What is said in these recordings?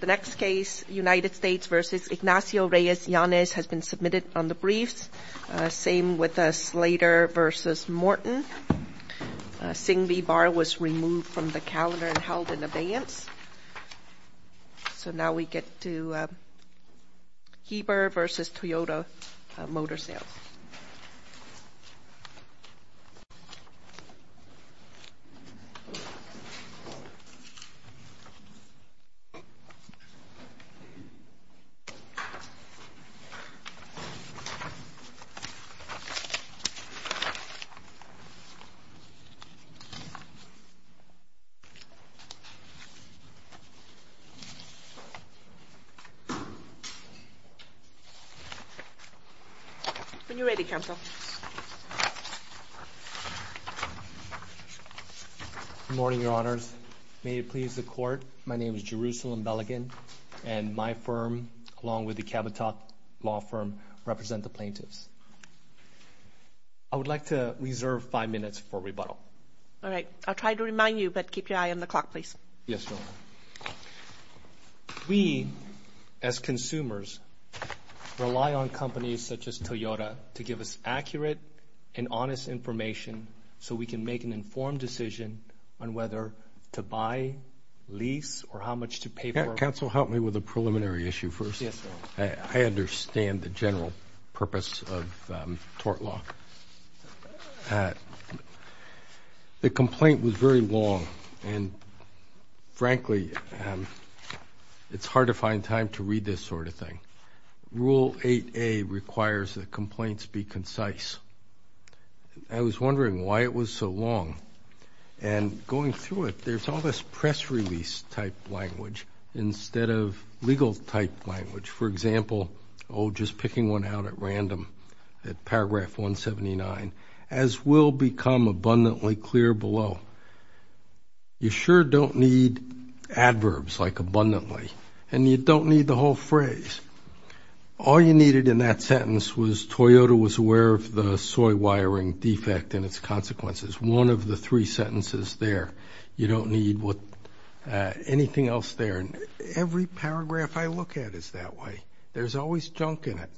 The next case, United States v. Ignacio Reyes Yanez, has been submitted on the briefs. Same with Slater v. Morton. Singh v. Barr was removed from the calendar and held in abeyance. So now we get to Heber v. Toyota Motor Sales. When you're ready, Counsel. Good morning, Your Honors. May it please the Court, my name is Jerusalem Beligan, and my firm, along with the Kabatock Law Firm, represent the plaintiffs. I would like to reserve five minutes for rebuttal. All right. I'll try to remind you, but keep your eye on the clock, please. Yes, Your Honor. We, as consumers, rely on companies such as Toyota to give us accurate and honest information so we can make an informed decision on whether to buy, lease, or how much to pay for. Counsel, help me with a preliminary issue first. Yes, Your Honor. I understand the general purpose of tort law. The complaint was very long, and frankly, it's hard to find time to read this sort of thing. Rule 8A requires that complaints be concise. I was wondering why it was so long. And going through it, there's all this press release-type language instead of legal-type language. For example, oh, just picking one out at random, at paragraph 179, as will become abundantly clear below, you sure don't need adverbs like abundantly, and you don't need the whole phrase. All you needed in that sentence was, Toyota was aware of the soy wiring defect and its consequences. One of the three sentences there. You don't need anything else there. Every paragraph I look at is that way. There's always junk in it.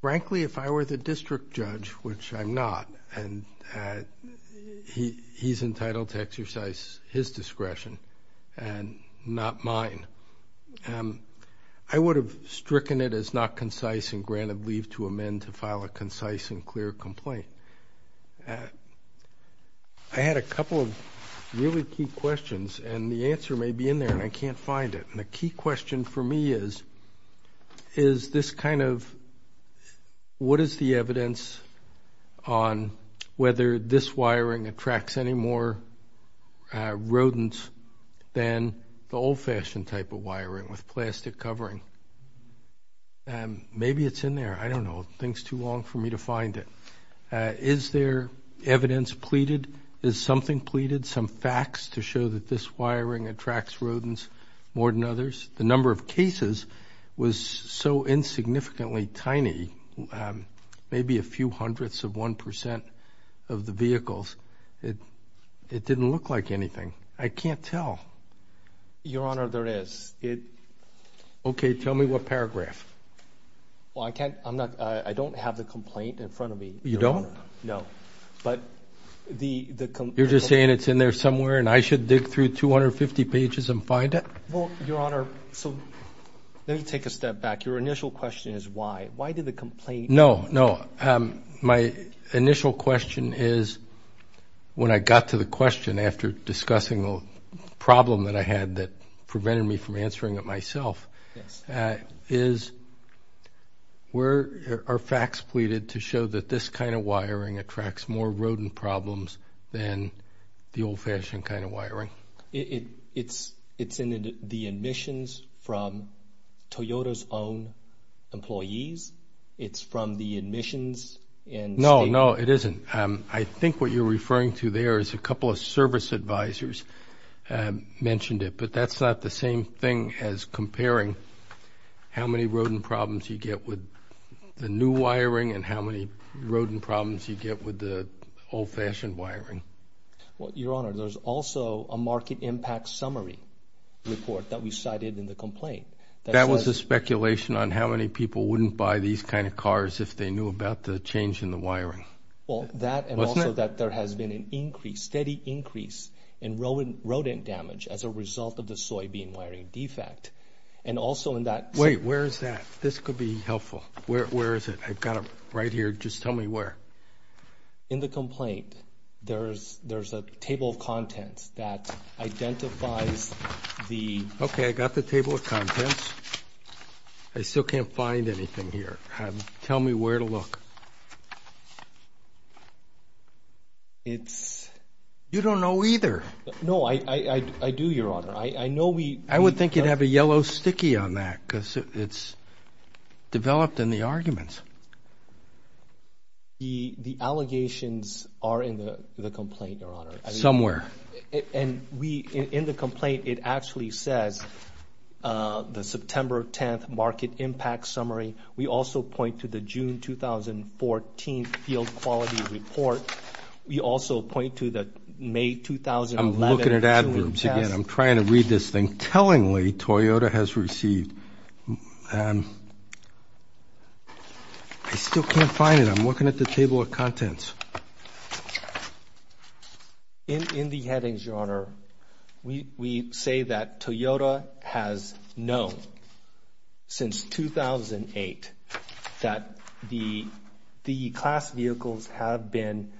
Frankly, if I were the district judge, which I'm not, and he's entitled to exercise his discretion and not mine, I would have stricken it as not concise and granted leave to amend to file a concise and clear complaint. I had a couple of really key questions, and the answer may be in there, and I can't find it. And the key question for me is, is this kind of, what is the evidence on whether this wiring attracts any more rodents than the old-fashioned type of wiring with plastic covering? Maybe it's in there. I don't know. It takes too long for me to find it. Is there evidence pleaded? Is something pleaded, some facts to show that this wiring attracts rodents more than others? The number of cases was so insignificantly tiny, maybe a few hundredths of 1% of the vehicles, it didn't look like anything. I can't tell. Your Honor, there is. Okay, tell me what paragraph. Well, I don't have the complaint in front of me. You don't? No. You're just saying it's in there somewhere and I should dig through 250 pages and find it? Well, Your Honor, let me take a step back. Your initial question is why. Why did the complaint? No, no. My initial question is, when I got to the question after discussing the problem that I had that prevented me from answering it myself, is where are facts pleaded to show that this kind of wiring attracts more rodent problems than the old-fashioned kind of wiring? It's in the admissions from Toyota's own employees. It's from the admissions. No, no, it isn't. I think what you're referring to there is a couple of service advisors mentioned it, but that's not the same thing as comparing how many rodent problems you get with the new wiring and how many rodent problems you get with the old-fashioned wiring. Well, Your Honor, there's also a market impact summary report that we cited in the complaint. That was a speculation on how many people wouldn't buy these kind of cars if they knew about the change in the wiring. Well, that and also that there has been an increase, steady increase in rodent damage as a result of the soybean wiring defect. And also in that... Wait, where is that? This could be helpful. Where is it? I've got it right here. Just tell me where. In the complaint, there's a table of contents that identifies the... Okay, I've got the table of contents. I still can't find anything here. Tell me where to look. It's... You don't know either. No, I do, Your Honor. I know we... I would think you'd have a yellow sticky on that because it's developed in the arguments. The allegations are in the complaint, Your Honor. Somewhere. In the complaint, it actually says the September 10th market impact summary. We also point to the June 2014 field quality report. We also point to the May 2011... I'm looking at adverbs again. I'm trying to read this thing. Tellingly, Toyota has received... I still can't find it. I'm looking at the table of contents. In the headings, Your Honor, we say that Toyota has known since 2008 that the class vehicles have been...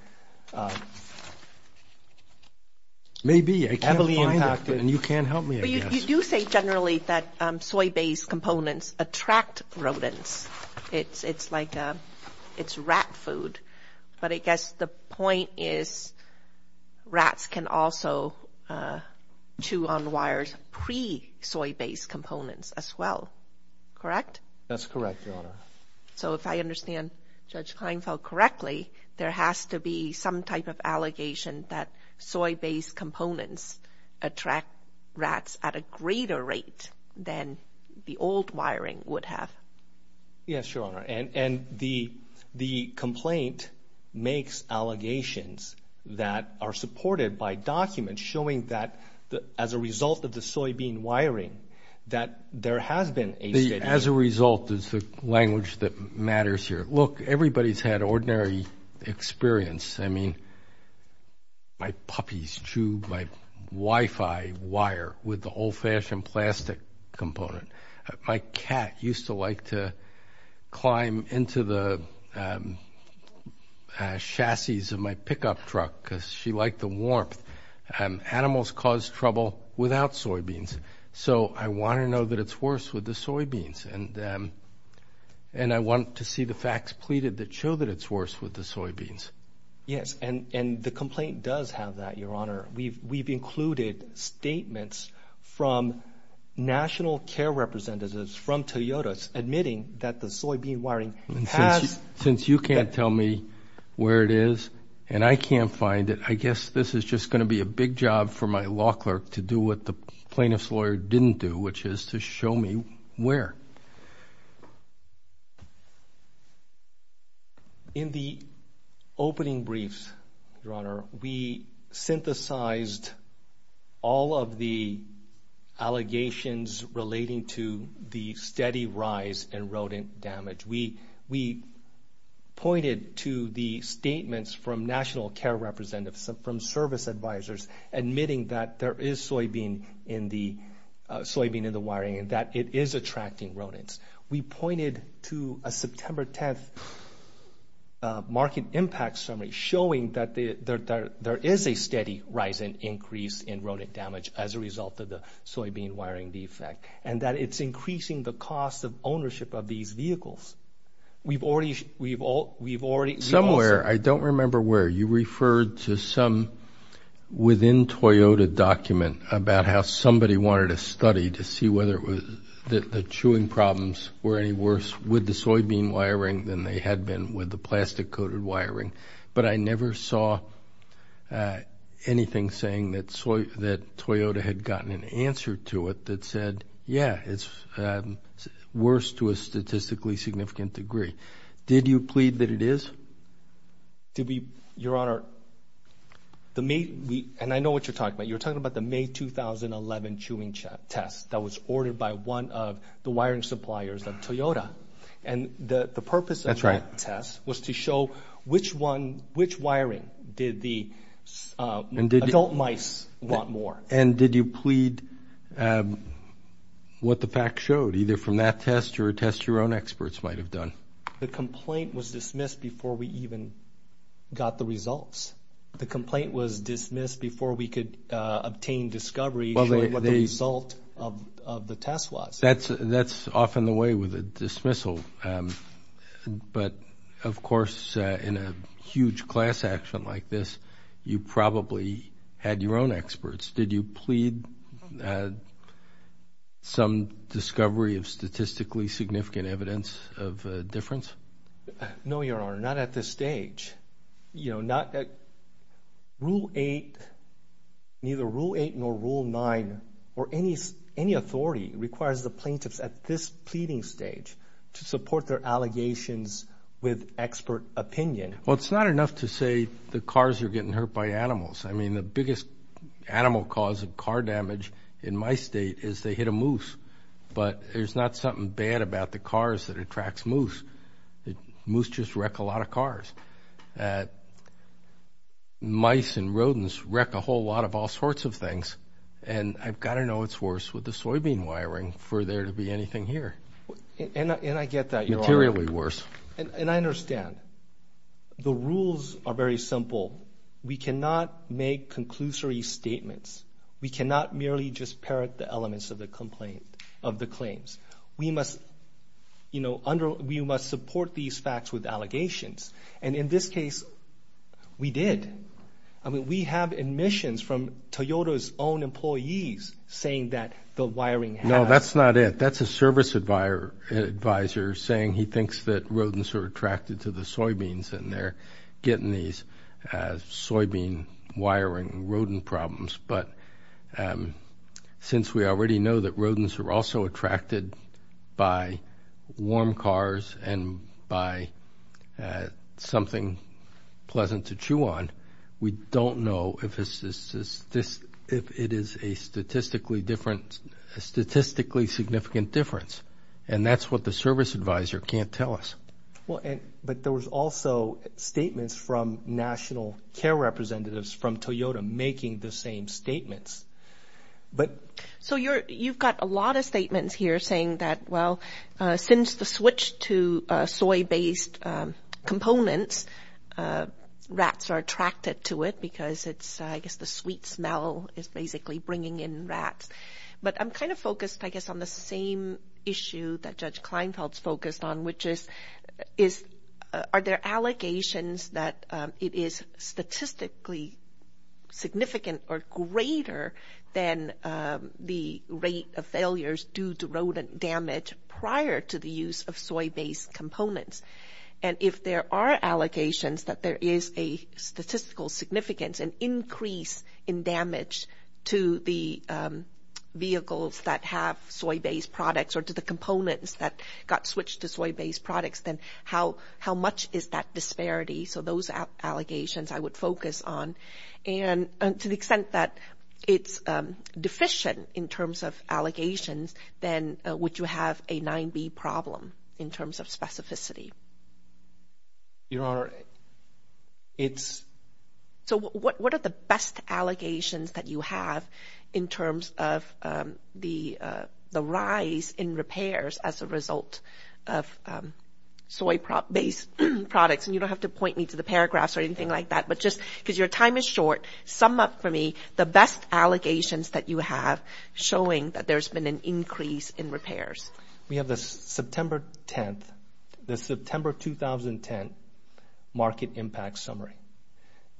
Maybe. I can't find it. Heavily impacted. And you can't help me, I guess. You do say generally that soy-based components attract rodents. It's like it's rat food. But I guess the point is rats can also chew on wires pre-soy-based components as well, correct? That's correct, Your Honor. So if I understand Judge Kleinfeld correctly, there has to be some type of allegation that soy-based components attract rats at a greater rate than the old wiring would have. Yes, Your Honor. And the complaint makes allegations that are supported by documents showing that as a result of the soybean wiring that there has been a steady... As a result is the language that matters here. Look, everybody's had ordinary experience. I mean, my puppy's chewed my Wi-Fi wire with the old-fashioned plastic component. My cat used to like to climb into the chassis of my pickup truck because she liked the warmth. Animals cause trouble without soybeans. So I want to know that it's worse with the soybeans. And I want to see the facts pleaded that show that it's worse with the soybeans. Yes, and the complaint does have that, Your Honor. We've included statements from national care representatives from Toyota admitting that the soybean wiring has... Since you can't tell me where it is and I can't find it, I guess this is just going to be a big job for my law clerk to do what the plaintiff's lawyer didn't do, which is to show me where. In the opening briefs, Your Honor, we synthesized all of the allegations relating to the steady rise in rodent damage. We pointed to the statements from national care representatives, from service advisors, admitting that there is soybean in the wiring and that it is attracting rodents. We pointed to a September 10th market impact summary showing that there is a steady rise in increase in rodent damage as a result of the soybean wiring defect and that it's increasing the cost of ownership of these vehicles. We've already... Somewhere, I don't remember where, you referred to some within-Toyota document about how somebody wanted to study to see whether it was... that the chewing problems were any worse with the soybean wiring than they had been with the plastic-coated wiring. But I never saw anything saying that Toyota had gotten an answer to it that said, yeah, it's worse to a statistically significant degree. Did you plead that it is? Your Honor, and I know what you're talking about. You're talking about the May 2011 chewing test that was ordered by one of the wiring suppliers of Toyota. That's right. And the purpose of that test was to show which wiring did the adult mice want more. And did you plead what the facts showed, either from that test or a test your own experts might have done? The complaint was dismissed before we even got the results. The complaint was dismissed before we could obtain discovery showing what the result of the test was. That's often the way with a dismissal. But, of course, in a huge class action like this, you probably had your own experts. Did you plead some discovery of statistically significant evidence of a difference? No, Your Honor, not at this stage. Rule 8, neither Rule 8 nor Rule 9 or any authority requires the plaintiffs at this pleading stage to support their allegations with expert opinion. Well, it's not enough to say the cars are getting hurt by animals. I mean, the biggest animal cause of car damage in my state is they hit a moose. But there's not something bad about the cars that attracts moose. Moose just wreck a lot of cars. Mice and rodents wreck a whole lot of all sorts of things. And I've got to know what's worse with the soybean wiring for there to be anything here. And I get that, Your Honor. Materially worse. And I understand. The rules are very simple. We cannot make conclusory statements. We cannot merely just parrot the elements of the complaint, of the claims. We must, you know, we must support these facts with allegations. And in this case, we did. I mean, we have admissions from Toyota's own employees saying that the wiring has. No, that's not it. That's a service advisor saying he thinks that rodents are attracted to the soybeans and they're getting these soybean wiring rodent problems. But since we already know that rodents are also attracted by warm cars and by something pleasant to chew on, we don't know if it is a statistically significant difference. And that's what the service advisor can't tell us. Well, but there was also statements from national care representatives from Toyota making the same statements. So you've got a lot of statements here saying that, well, since the switch to soy-based components, rats are attracted to it because it's, I guess, the sweet smell is basically bringing in rats. But I'm kind of focused, I guess, on the same issue that Judge Kleinfeld's focused on, which is are there allegations that it is statistically significant or greater than the rate of failures due to rodent damage prior to the use of soy-based components? And if there are allegations that there is a statistical significance, an increase in damage to the vehicles that have soy-based products or to the components that got switched to soy-based products, then how much is that disparity? So those are allegations I would focus on. And to the extent that it's deficient in terms of allegations, then would you have a 9B problem in terms of specificity? Your Honor, it's – So what are the best allegations that you have in terms of the rise in repairs as a result of soy-based products? And you don't have to point me to the paragraphs or anything like that, but just because your time is short, sum up for me the best allegations that you have showing that there's been an increase in repairs. We have the September 10th, the September 2010 Market Impact Summary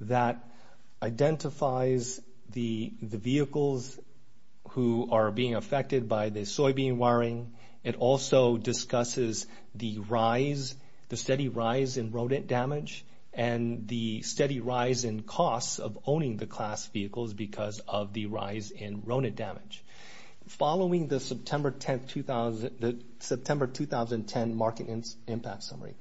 that identifies the vehicles who are being affected by the soybean wiring. It also discusses the rise, the steady rise in rodent damage and the steady rise in costs of owning the class vehicles because of the rise in rodent damage. Following the September 10th, the September 2010 Market Impact Summary,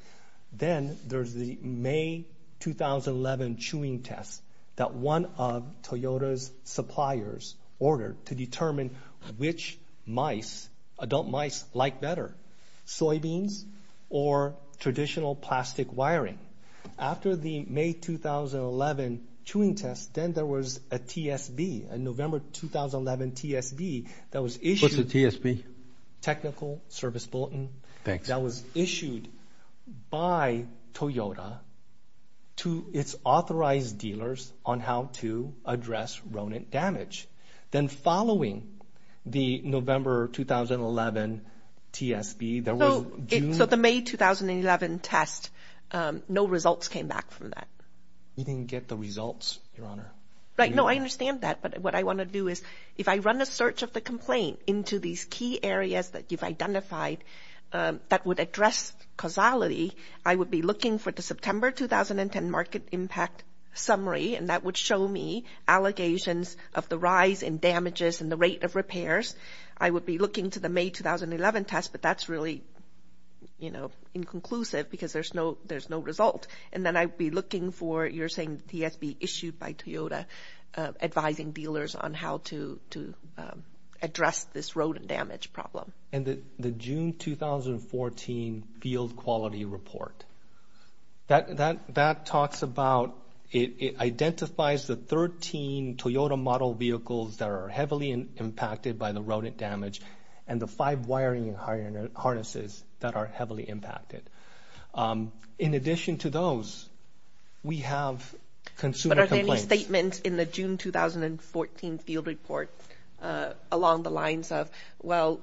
then there's the May 2011 chewing test that one of Toyota's suppliers ordered to determine which mice, adult mice, like better, soybeans or traditional plastic wiring. After the May 2011 chewing test, then there was a TSB, a November 2011 TSB that was issued – What's a TSB? Technical Service Bulletin. Thanks. That was issued by Toyota to its authorized dealers on how to address rodent damage. Then following the November 2011 TSB, there was – So the May 2011 test, no results came back from that. You didn't get the results, Your Honor. No, I understand that, but what I want to do is if I run a search of the complaint into these key areas that you've identified that would address causality, I would be looking for the September 2010 Market Impact Summary, and that would show me allegations of the rise in damages and the rate of repairs. I would be looking to the May 2011 test, but that's really inconclusive because there's no result. And then I'd be looking for, you're saying, the TSB issued by Toyota advising dealers on how to address this rodent damage problem. And the June 2014 Field Quality Report, that talks about – that are heavily impacted by the rodent damage and the five wiring harnesses that are heavily impacted. In addition to those, we have consumer complaints. But are there any statements in the June 2014 Field Report along the lines of, well,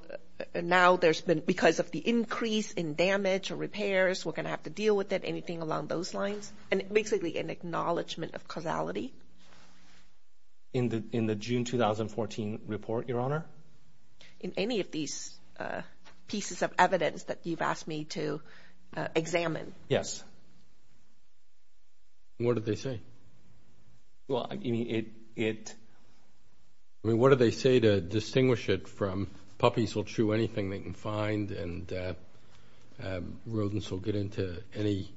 now there's been – because of the increase in damage or repairs, we're going to have to deal with it, anything along those lines? Yes, and basically an acknowledgment of causality. In the June 2014 report, Your Honor? In any of these pieces of evidence that you've asked me to examine. Yes. What did they say? Well, I mean, it – I mean, what did they say to distinguish it from puppies will chew anything they can find and rodents will get into any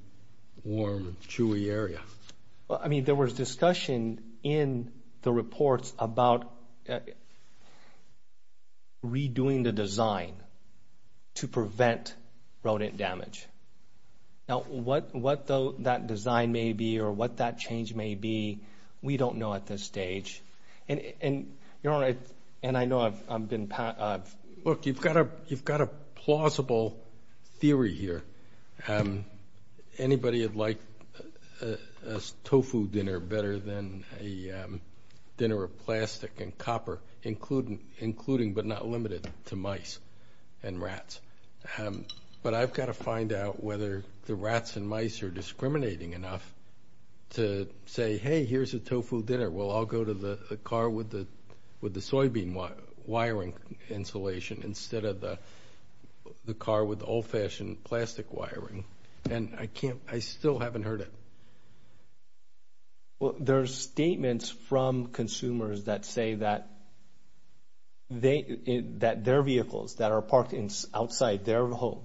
warm, chewy area? Well, I mean, there was discussion in the reports about redoing the design to prevent rodent damage. Now, what that design may be or what that change may be, we don't know at this stage. And, Your Honor, and I know I've been – Look, you've got a plausible theory here. Anybody would like a tofu dinner better than a dinner of plastic and copper, including but not limited to mice and rats. But I've got to find out whether the rats and mice are discriminating enough to say, hey, here's a tofu dinner. Well, I'll go to the car with the soybean wiring installation instead of the car with the old-fashioned plastic wiring. And I can't – I still haven't heard it. Well, there are statements from consumers that say that their vehicles that are parked outside their home,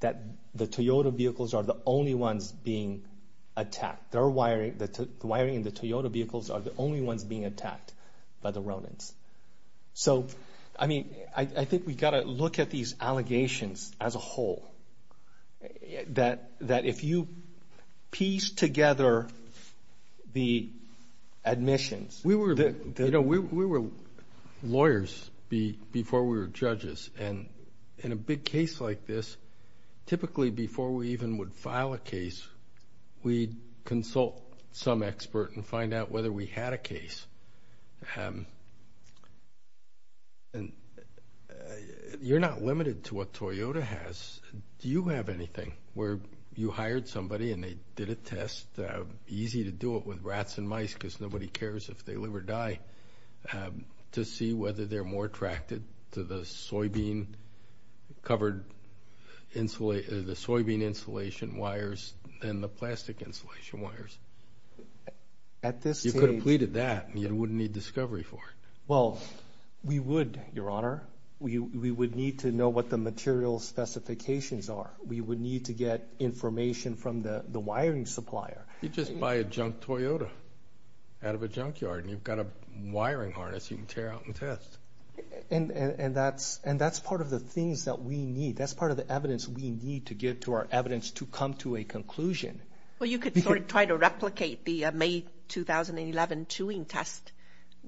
that the Toyota vehicles are the only ones being attacked. Their wiring, the wiring in the Toyota vehicles are the only ones being attacked by the rodents. So, I mean, I think we've got to look at these allegations as a whole, that if you piece together the admissions. We were lawyers before we were judges. And in a big case like this, typically before we even would file a case, we'd consult some expert and find out whether we had a case. And you're not limited to what Toyota has. Do you have anything where you hired somebody and they did a test, easy to do it with rats and mice because nobody cares if they live or die, to see whether they're more attracted to the soybean insulation wires than the plastic insulation wires? You could have pleaded that and you wouldn't need discovery for it. Well, we would, Your Honor. We would need to know what the material specifications are. We would need to get information from the wiring supplier. You just buy a junk Toyota out of a junkyard and you've got a wiring harness you can tear out and test. And that's part of the things that we need. That's part of the evidence we need to give to our evidence to come to a conclusion. Well, you could sort of try to replicate the May 2011 chewing test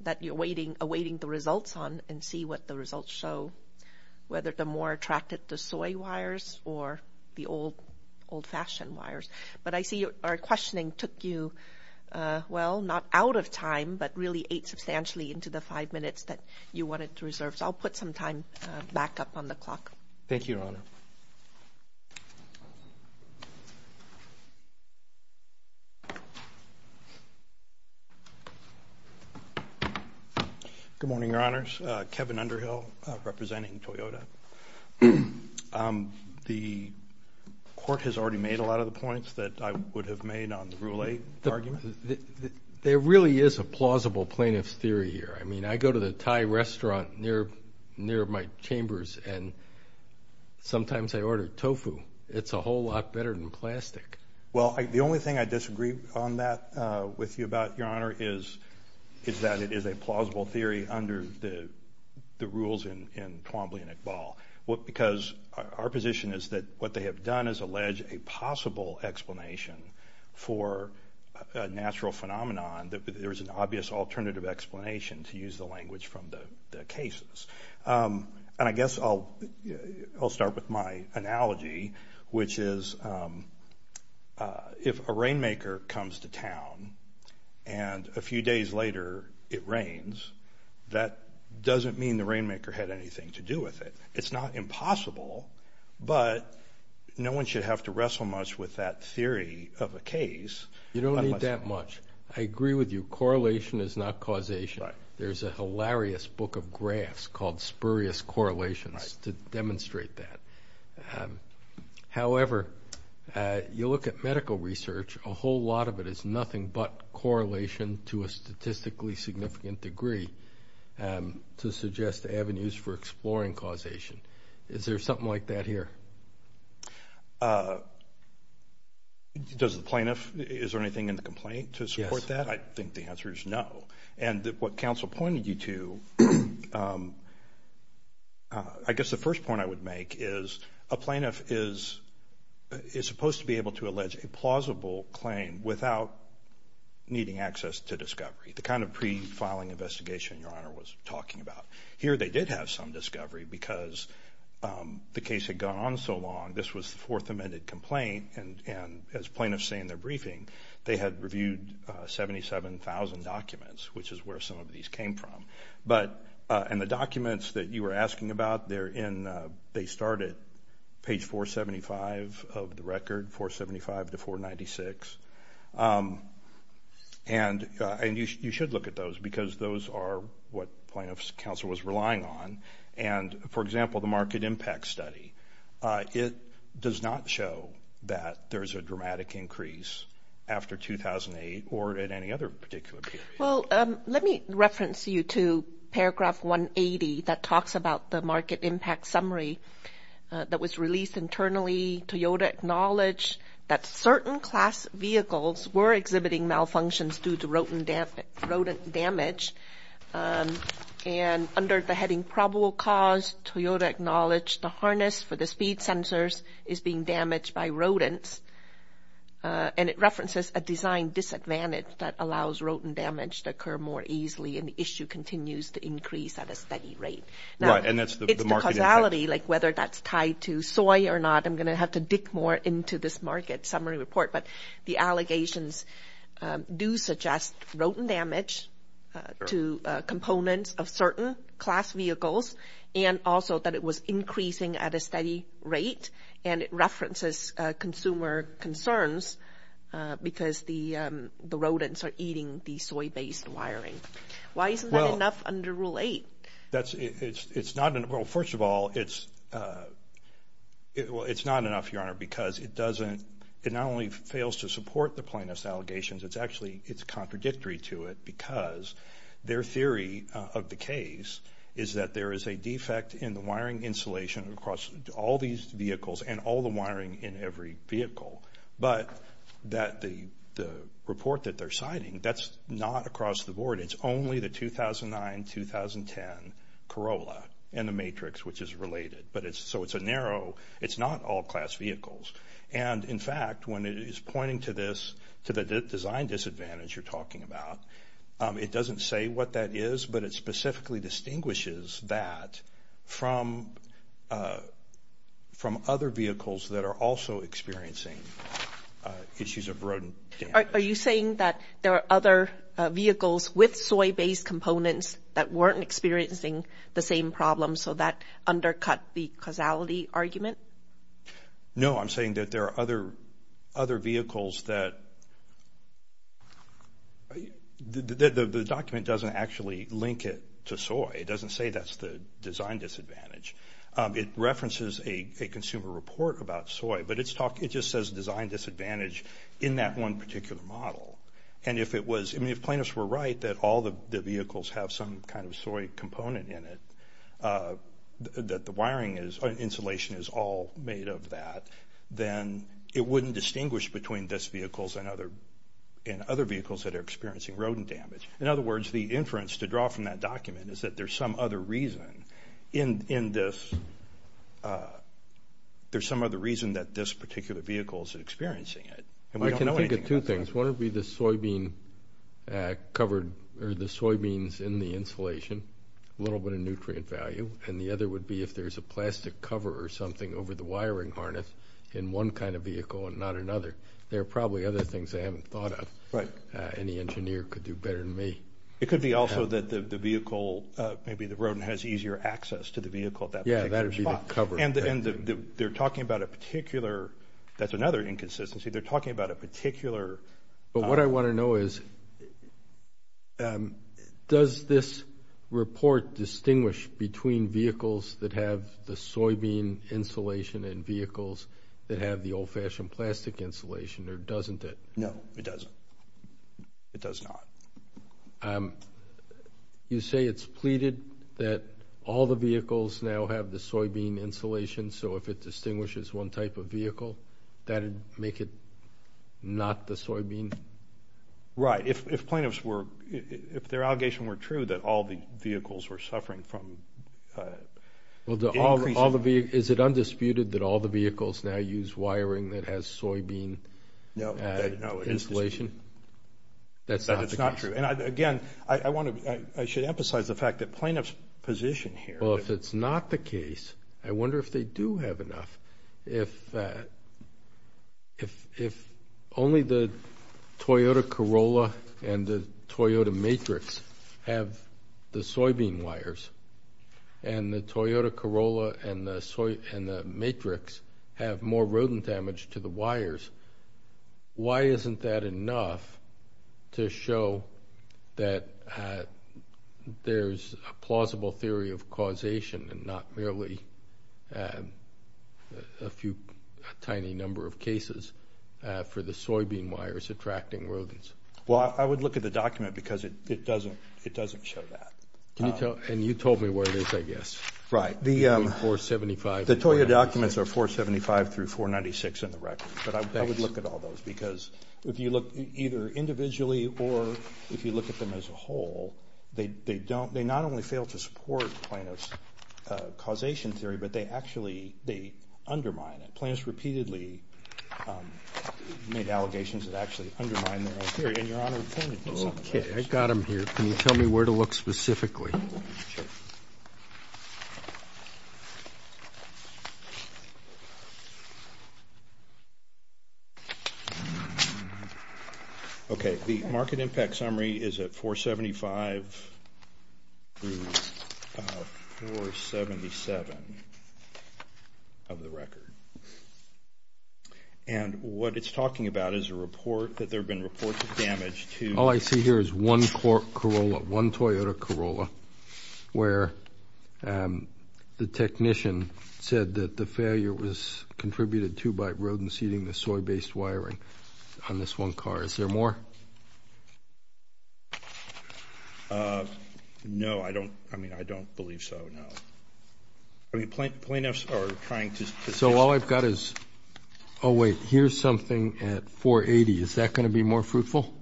that you're awaiting the results on and see what the results show, whether they're more attracted to soy wires or the old-fashioned wires. But I see our questioning took you, well, not out of time, but really eight substantially into the five minutes that you wanted to reserve. So I'll put some time back up on the clock. Thank you, Your Honor. Good morning, Your Honors. Kevin Underhill representing Toyota. The court has already made a lot of the points that I would have made on the Rule 8 argument. There really is a plausible plaintiff's theory here. I mean, I go to the Thai restaurant near my chambers and sometimes I order tofu. It's a whole lot better than plastic. Well, the only thing I disagree on that with you about, Your Honor, is that it is a plausible theory under the rules in Twombly and Iqbal. Because our position is that what they have done is allege a possible explanation for a natural phenomenon that there is an obvious alternative explanation to use the language from the cases. And I guess I'll start with my analogy, which is if a rainmaker comes to town and a few days later it rains, that doesn't mean the rainmaker had anything to do with it. It's not impossible, but no one should have to wrestle much with that theory of a case. You don't need that much. I agree with you. Correlation is not causation. There's a hilarious book of graphs called Spurious Correlations to demonstrate that. However, you look at medical research, a whole lot of it is nothing but correlation to a statistically significant degree to suggest avenues for exploring causation. Is there something like that here? Is there anything in the complaint to support that? Yes. I think the answer is no. And what counsel pointed you to, I guess the first point I would make is a plaintiff is supposed to be able to allege a plausible claim without needing access to discovery, the kind of pre-filing investigation Your Honor was talking about. Here they did have some discovery because the case had gone on so long. This was the Fourth Amendment complaint, and as plaintiffs say in their briefing, they had reviewed 77,000 documents, which is where some of these came from. And the documents that you were asking about, they start at page 475 of the record, 475 to 496. And you should look at those because those are what plaintiff's counsel was relying on. And, for example, the market impact study, it does not show that there's a dramatic increase after 2008 or at any other particular period. Well, let me reference you to paragraph 180 that talks about the market impact summary that was released internally. Toyota acknowledged that certain class vehicles were exhibiting malfunctions due to rodent damage, and under the heading probable cause, Toyota acknowledged the harness for the speed sensors is being damaged by rodents. And it references a design disadvantage that allows rodent damage to occur more easily, and the issue continues to increase at a steady rate. Right, and that's the market impact. It's the causality, like whether that's tied to soy or not. I'm going to have to dig more into this market summary report. But the allegations do suggest rodent damage to components of certain class vehicles and also that it was increasing at a steady rate, and it references consumer concerns because the rodents are eating the soy-based wiring. Why isn't that enough under Rule 8? Well, first of all, it's not enough, Your Honor, because it not only fails to support the plaintiff's allegations, it's actually contradictory to it because their theory of the case is that there is a defect in the wiring insulation across all these vehicles and all the wiring in every vehicle. But the report that they're citing, that's not across the board. It's only the 2009-2010 Corolla and the Matrix, which is related. So it's a narrow, it's not all class vehicles. And, in fact, when it is pointing to this, to the design disadvantage you're talking about, it doesn't say what that is, but it specifically distinguishes that from other vehicles that are also experiencing issues of rodent damage. Are you saying that there are other vehicles with soy-based components that weren't experiencing the same problem, so that undercut the causality argument? No, I'm saying that there are other vehicles that the document doesn't actually link it to soy. It doesn't say that's the design disadvantage. It references a consumer report about soy, but it just says design disadvantage in that one particular model. I mean, if plaintiffs were right that all the vehicles have some kind of soy component in it, that the wiring insulation is all made of that, then it wouldn't distinguish between these vehicles and other vehicles that are experiencing rodent damage. In other words, the inference to draw from that document is that there's some other reason in this, there's some other reason that this particular vehicle is experiencing it. I can think of two things. One would be the soybeans in the insulation, a little bit of nutrient value, and the other would be if there's a plastic cover or something over the wiring harness in one kind of vehicle and not another. There are probably other things they haven't thought of. Any engineer could do better than me. It could be also that the vehicle, maybe the rodent, has easier access to the vehicle at that particular spot. Yeah, that would be the cover. And they're talking about a particular, that's another inconsistency, they're talking about a particular. But what I want to know is, does this report distinguish between vehicles that have the soybean insulation and vehicles that have the old-fashioned plastic insulation or doesn't it? No, it doesn't. It does not. You say it's pleaded that all the vehicles now have the soybean insulation, so if it distinguishes one type of vehicle, that would make it not the soybean? Right. If plaintiffs were, if their allegation were true, that all the vehicles were suffering from increasing. Is it undisputed that all the vehicles now use wiring that has soybean insulation? No. That's not the case. That's not true. And, again, I should emphasize the fact that plaintiffs' position here. Well, if it's not the case, I wonder if they do have enough. If only the Toyota Corolla and the Toyota Matrix have the soybean wires and the Toyota Corolla and the Matrix have more rodent damage to the wires, why isn't that enough to show that there's a plausible theory of causation and not merely a few tiny number of cases for the soybean wires attracting rodents? Well, I would look at the document because it doesn't show that. And you told me where it is, I guess. Right. The Toyota documents are 475 through 496 in the record. But I would look at all those because if you look either individually or if you look at them as a whole, they not only fail to support plaintiff's causation theory, but they actually undermine it. Plaintiffs repeatedly made allegations that actually undermine their own theory. And, Your Honor, it's not the case. Okay. I've got them here. Can you tell me where to look specifically? Sure. Okay. The market impact summary is at 475 through 477 of the record. And what it's talking about is a report that there have been reports of damage to the... All I see here is one Corolla, one Toyota Corolla, where the technician said that the failure was contributed to by rodents eating the soy-based wiring on this one car. Is there more? No, I don't believe so, no. I mean, plaintiffs are trying to... So all I've got is... Oh, wait, here's something at 480. Is that going to be more fruitful?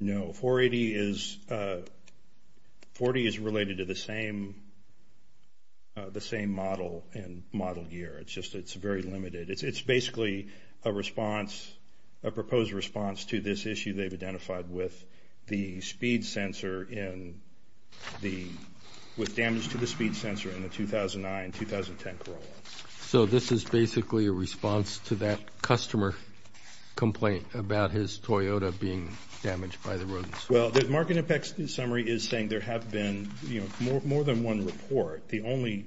No. 480 is... 480 is related to the same model and model year. It's just it's very limited. It's basically a response, a proposed response to this issue they've identified with the speed sensor in the... with damage to the speed sensor in the 2009-2010 Corolla. So this is basically a response to that customer complaint about his Toyota being damaged by the rodents? Well, the market impact summary is saying there have been more than one report. The only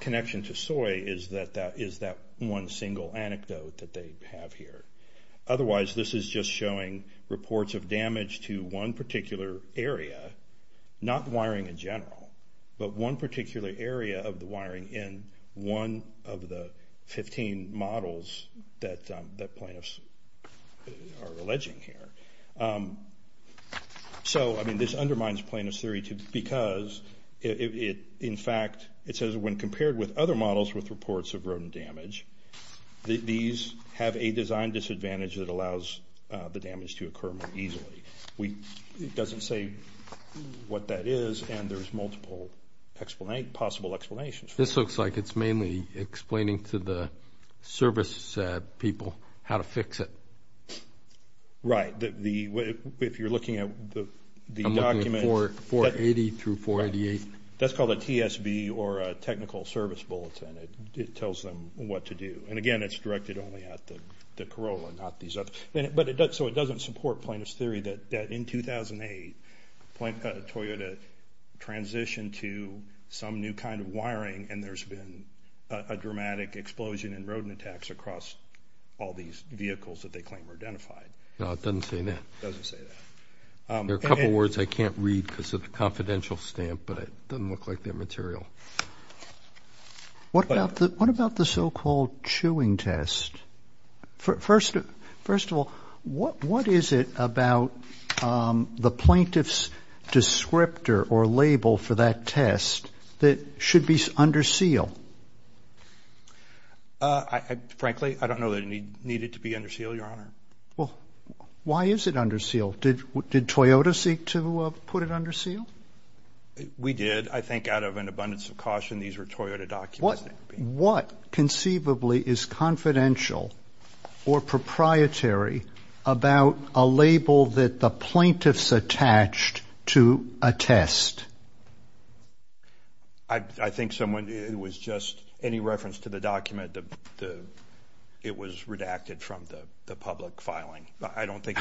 connection to soy is that one single anecdote that they have here. Otherwise, this is just showing reports of damage to one particular area, not wiring in general, but one particular area of the wiring in one of the 15 models that plaintiffs are alleging here. So, I mean, this undermines plaintiffs' theory because it, in fact, it says when compared with other models with reports of rodent damage, these have a design disadvantage that allows the damage to occur more easily. It doesn't say what that is, and there's multiple possible explanations. This looks like it's mainly explaining to the service people how to fix it. Right. If you're looking at the document... I'm looking at 480 through 488. That's called a TSB or a technical service bulletin. It tells them what to do. And, again, it's directed only at the Corolla, not these other... So it doesn't support plaintiffs' theory that in 2008, Toyota transitioned to some new kind of wiring, and there's been a dramatic explosion in rodent attacks across all these vehicles that they claim were identified. No, it doesn't say that. It doesn't say that. There are a couple words I can't read because of the confidential stamp, but it doesn't look like they're material. What about the so-called chewing test? First of all, what is it about the plaintiff's descriptor or label for that test that should be under seal? Frankly, I don't know that it needed to be under seal, Your Honor. Well, why is it under seal? Did Toyota seek to put it under seal? We did. I think out of an abundance of caution, these were Toyota documents. What conceivably is confidential or proprietary about a label that the plaintiffs attached to a test? I think someone... it was just any reference to the document. It was redacted from the public filing. I don't think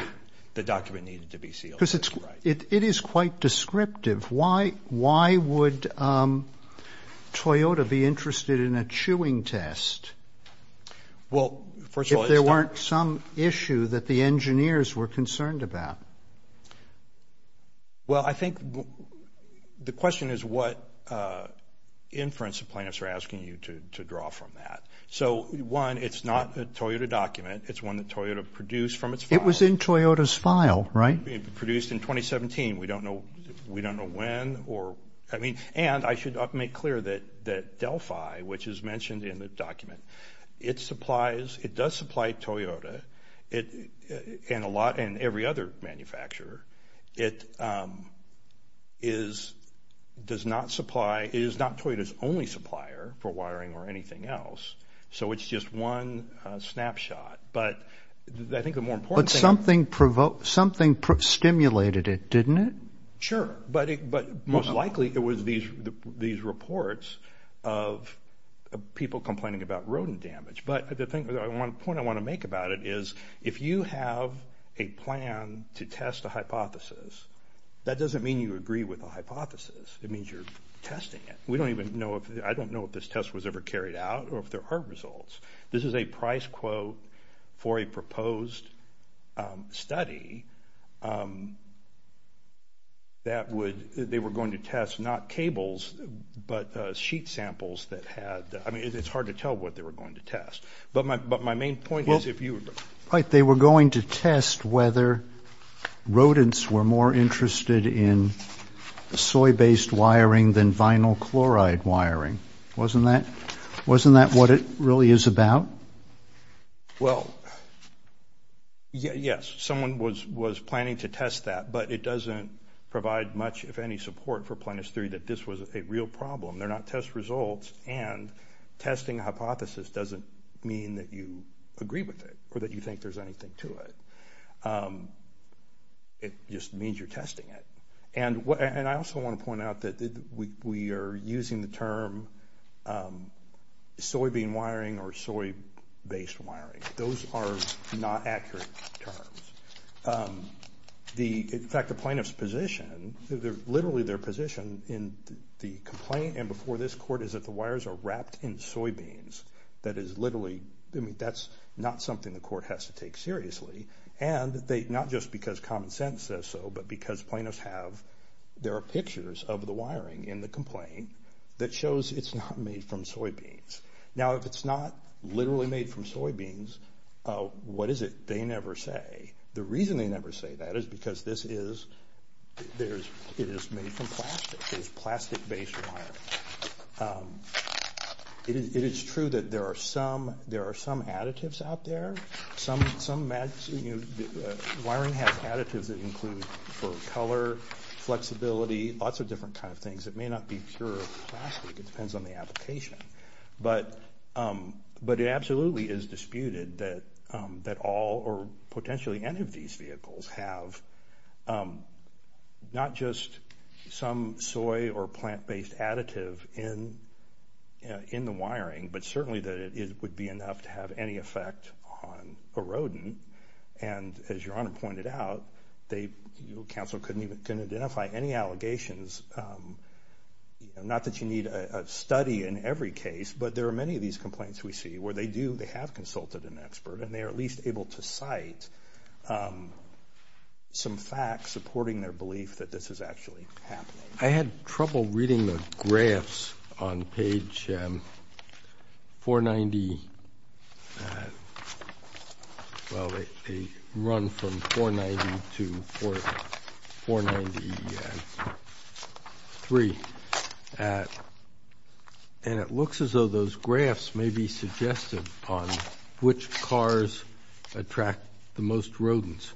the document needed to be sealed. Because it is quite descriptive. Why would Toyota be interested in a chewing test if there weren't some issue that the engineers were concerned about? Well, I think the question is what inference the plaintiffs are asking you to draw from that. So, one, it's not a Toyota document. It's one that Toyota produced from its files. It was in Toyota's file, right? Produced in 2017. We don't know when or... I mean, and I should make clear that Delphi, which is mentioned in the document, it supplies... it does supply Toyota and a lot... and every other manufacturer. It is... does not supply... it is not Toyota's only supplier for wiring or anything else. So, it's just one snapshot. But I think the more important thing... Something stimulated it, didn't it? Sure. But most likely it was these reports of people complaining about rodent damage. But the point I want to make about it is if you have a plan to test a hypothesis, that doesn't mean you agree with the hypothesis. It means you're testing it. We don't even know if... I don't know if this test was ever carried out or if there are results. This is a price quote for a proposed study that would... they were going to test not cables, but sheet samples that had... I mean, it's hard to tell what they were going to test. But my main point is if you... Right. They were going to test whether rodents were more interested in soy-based wiring than vinyl chloride wiring. Wasn't that what it really is about? Well, yes. Someone was planning to test that. But it doesn't provide much, if any, support for plaintiff's theory that this was a real problem. They're not test results. And testing a hypothesis doesn't mean that you agree with it or that you think there's anything to it. It just means you're testing it. And I also want to point out that we are using the term soybean wiring or soy-based wiring. Those are not accurate terms. In fact, the plaintiff's position, literally their position in the complaint and before this court, is that the wires are wrapped in soybeans. That is literally... I mean, that's not something the court has to take seriously. And not just because common sense says so, but because plaintiffs have... There are pictures of the wiring in the complaint that shows it's not made from soybeans. Now, if it's not literally made from soybeans, what is it they never say? The reason they never say that is because this is... it is made from plastic. It is plastic-based wiring. It is true that there are some additives out there. Some wiring has additives that include for color, flexibility, lots of different kind of things. It may not be pure plastic. It depends on the application. But it absolutely is disputed that all or potentially any of these vehicles have not just some soy or plant-based additive in the wiring, but certainly that it would be enough to have any effect on a rodent. And as Your Honor pointed out, they... counsel couldn't even identify any allegations. Not that you need a study in every case, but there are many of these complaints we see where they do... they have consulted an expert, and they are at least able to cite some facts supporting their belief that this is actually happening. I had trouble reading the graphs on page 490... well, they run from 490 to 493. And it looks as though those graphs may be suggestive on which cars attract the most rodents.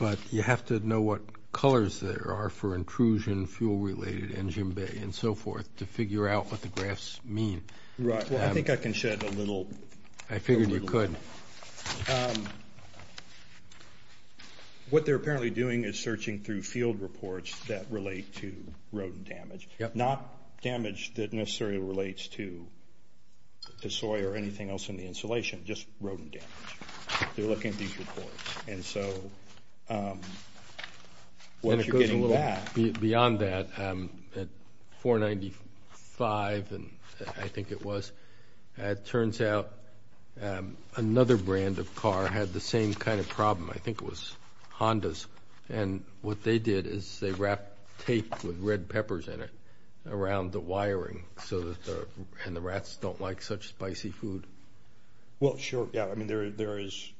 But you have to know what colors there are for intrusion, fuel-related, engine bay, and so forth, to figure out what the graphs mean. Right. Well, I think I can shed a little... I figured you could. What they're apparently doing is searching through field reports that relate to rodent damage. Not damage that necessarily relates to soy or anything else in the installation, just rodent damage. They're looking at these reports. And so, once you're getting that... And it goes a little beyond that. At 495, I think it was, it turns out another brand of car had the same kind of problem. I think it was Honda's. And what they did is they wrapped tape with red peppers in it around the wiring, and the rats don't like such spicy food. Well, sure. Yeah, I mean, there is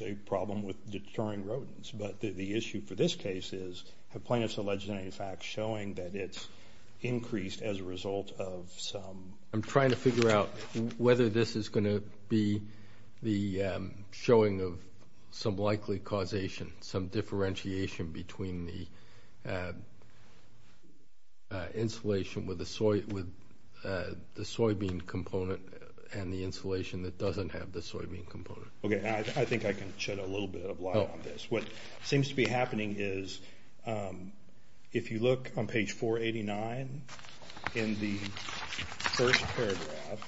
a problem with deterring rodents. But the issue for this case is have plaintiffs alleged any facts showing that it's increased as a result of some... I'm trying to figure out whether this is going to be the showing of some likely causation, some differentiation between the installation with the soybean component and the installation that doesn't have the soybean component. Okay. I think I can shed a little bit of light on this. What seems to be happening is if you look on page 489 in the first paragraph,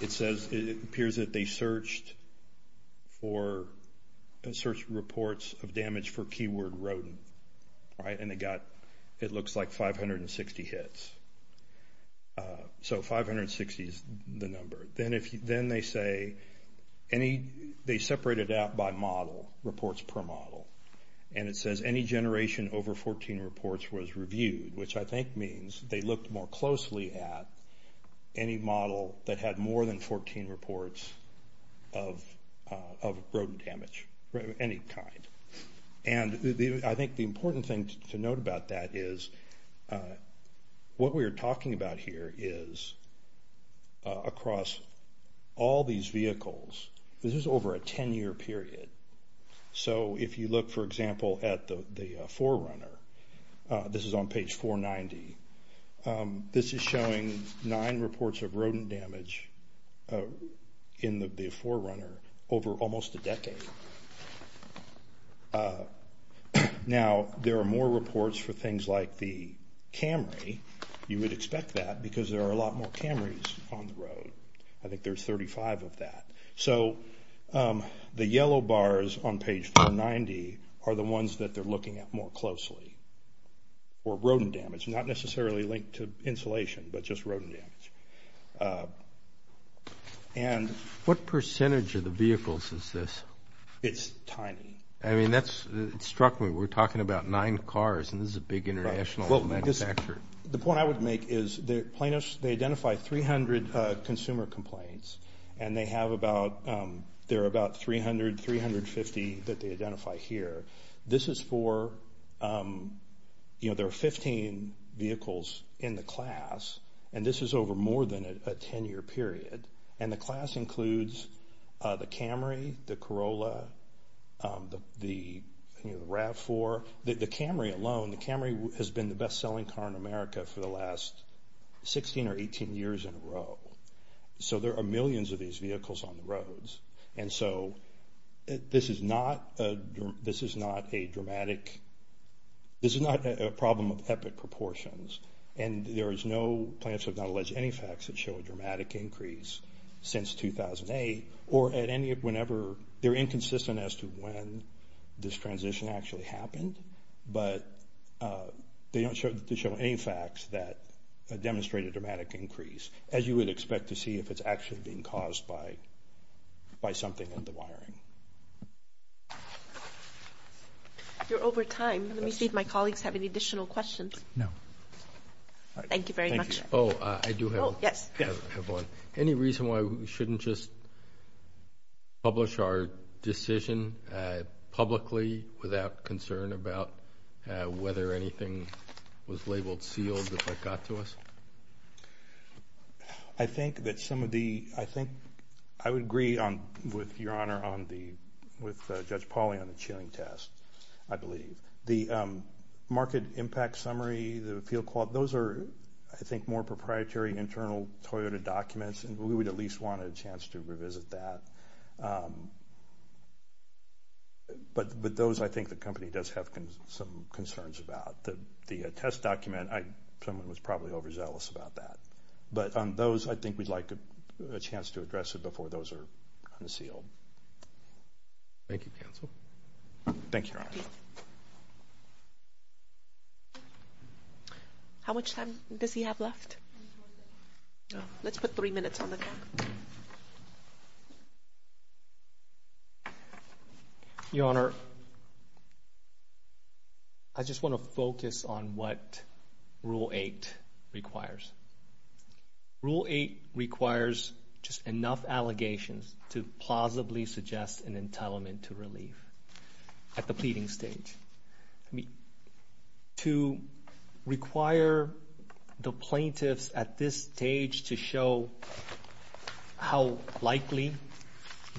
it says it appears that they searched reports of damage for keyword rodent, right? And they got, it looks like, 560 hits. So, 560 is the number. Then they say any... they separate it out by model, reports per model. And it says any generation over 14 reports was reviewed, which I think means they looked more closely at any model that had more than 14 reports of rodent damage, any kind. And I think the important thing to note about that is what we are talking about here is across all these vehicles, this is over a 10-year period. So, if you look, for example, at the 4Runner, this is on page 490, this is showing nine reports of rodent damage in the 4Runner over almost a decade. Now, there are more reports for things like the Camry. You would expect that because there are a lot more Camrys on the road. I think there's 35 of that. So, the yellow bars on page 490 are the ones that they're looking at more closely for rodent damage, not necessarily linked to insulation, but just rodent damage. And... What percentage of the vehicles is this? It's tiny. I mean, that struck me. We're talking about nine cars, and this is a big international manufacturer. The point I would make is the plaintiffs, they identify 300 consumer complaints, and they have about... there are about 300, 350 that they identify here. This is for... you know, there are 15 vehicles in the class, and this is over more than a 10-year period. And the class includes the Camry, the Corolla, the RAV4. The Camry alone, the Camry has been the best-selling car in America for the last 16 or 18 years in a row. So, there are millions of these vehicles on the roads. And so, this is not a dramatic... this is not a problem of epic proportions, and there is no... plaintiffs have not alleged any facts that show a dramatic increase since 2008, or at any... whenever... they're inconsistent as to when this transition actually happened, but they don't show any facts that demonstrate a dramatic increase, as you would expect to see if it's actually being caused by something in the wiring. You're over time. Let me see if my colleagues have any additional questions. No. Thank you very much. Thank you. Oh, I do have one. Yes. I do have one. Any reason why we shouldn't just publish our decision publicly, without concern about whether anything was labeled sealed if that got to us? I think that some of the... I think I would agree with Your Honor on the... with Judge Pauly on the chilling test, I believe. The market impact summary, the field... those are, I think, more proprietary internal Toyota documents, and we would at least want a chance to revisit that. But those I think the company does have some concerns about. The test document, I... someone was probably overzealous about that. But on those, I think we'd like a chance to address it before those are unsealed. Thank you, counsel. Thank you, Your Honor. How much time does he have left? Let's put three minutes on the clock. Your Honor, I just want to focus on what Rule 8 requires. Rule 8 requires just enough allegations to plausibly suggest an entitlement to relief at the pleading stage. To require the plaintiffs at this stage to show how likely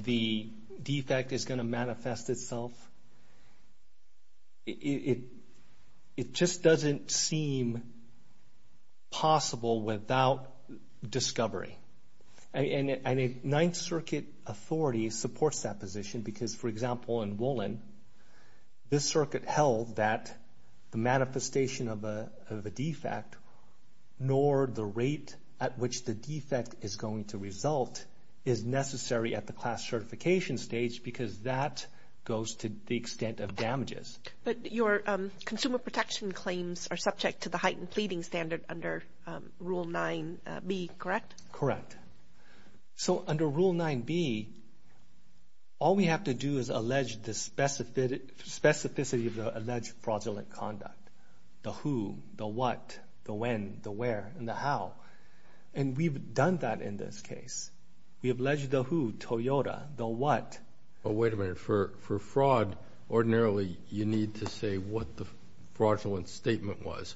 the defect is going to manifest itself, it just doesn't seem possible without discovery. And a Ninth Circuit authority supports that position because, for example, in Woolen, this circuit held that the manifestation of a defect, nor the rate at which the defect is going to result, is necessary at the class certification stage because that goes to the extent of damages. But your consumer protection claims are subject to the heightened pleading standard under Rule 9B, correct? Correct. So under Rule 9B, all we have to do is allege the specificity of the alleged fraudulent conduct, the who, the what, the when, the where, and the how. And we've done that in this case. We have alleged the who, Toyota, the what. Wait a minute. For fraud, ordinarily you need to say what the fraudulent statement was.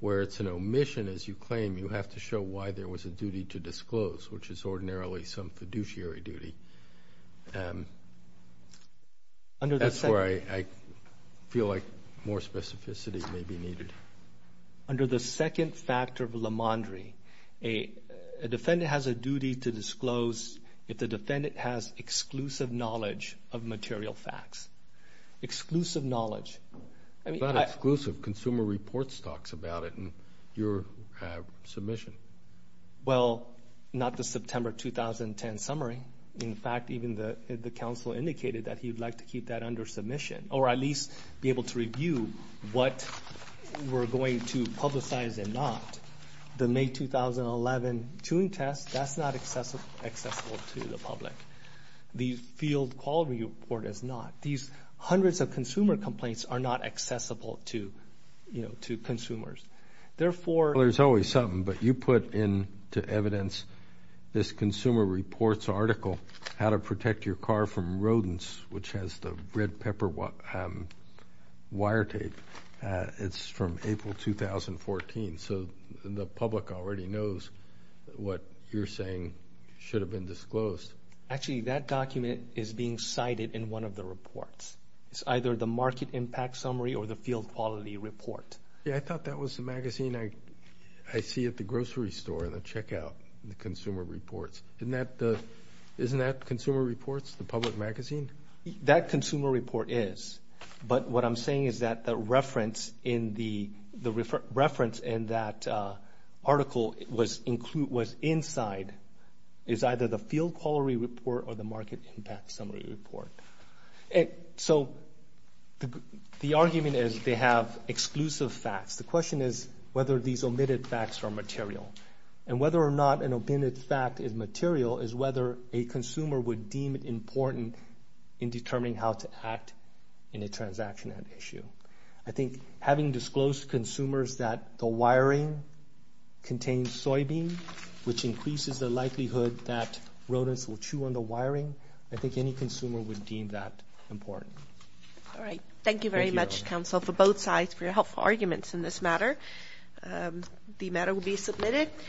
Where it's an omission, as you claim, you have to show why there was a duty to disclose, which is ordinarily some fiduciary duty. That's where I feel like more specificity may be needed. Under the second factor of la mandre, a defendant has a duty to disclose if the defendant has exclusive knowledge of material facts. Exclusive knowledge. It's not exclusive. Consumer Reports talks about it in your submission. Well, not the September 2010 summary. In fact, even the counsel indicated that he would like to keep that under submission or at least be able to review what we're going to publicize and not. The May 2011 chewing test, that's not accessible to the public. The field quality report is not. These hundreds of consumer complaints are not accessible to, you know, to consumers. Therefore, Well, there's always something, but you put into evidence this Consumer Reports article, how to protect your car from rodents, which has the red pepper wire tape. It's from April 2014. So the public already knows what you're saying should have been disclosed. Actually, that document is being cited in one of the reports. It's either the market impact summary or the field quality report. Yeah, I thought that was the magazine I see at the grocery store in the checkout, the Consumer Reports. Isn't that Consumer Reports, the public magazine? That Consumer Report is. But what I'm saying is that the reference in that article was inside, is either the field quality report or the market impact summary report. So the argument is they have exclusive facts. The question is whether these omitted facts are material. And whether or not an omitted fact is material is whether a consumer would deem it important in determining how to act in a transaction at issue. I think having disclosed to consumers that the wiring contains soybean, which increases the likelihood that rodents will chew on the wiring, I think any consumer would deem that important. All right. Thank you very much, counsel, for both sides for your helpful arguments in this matter. The matter will be submitted.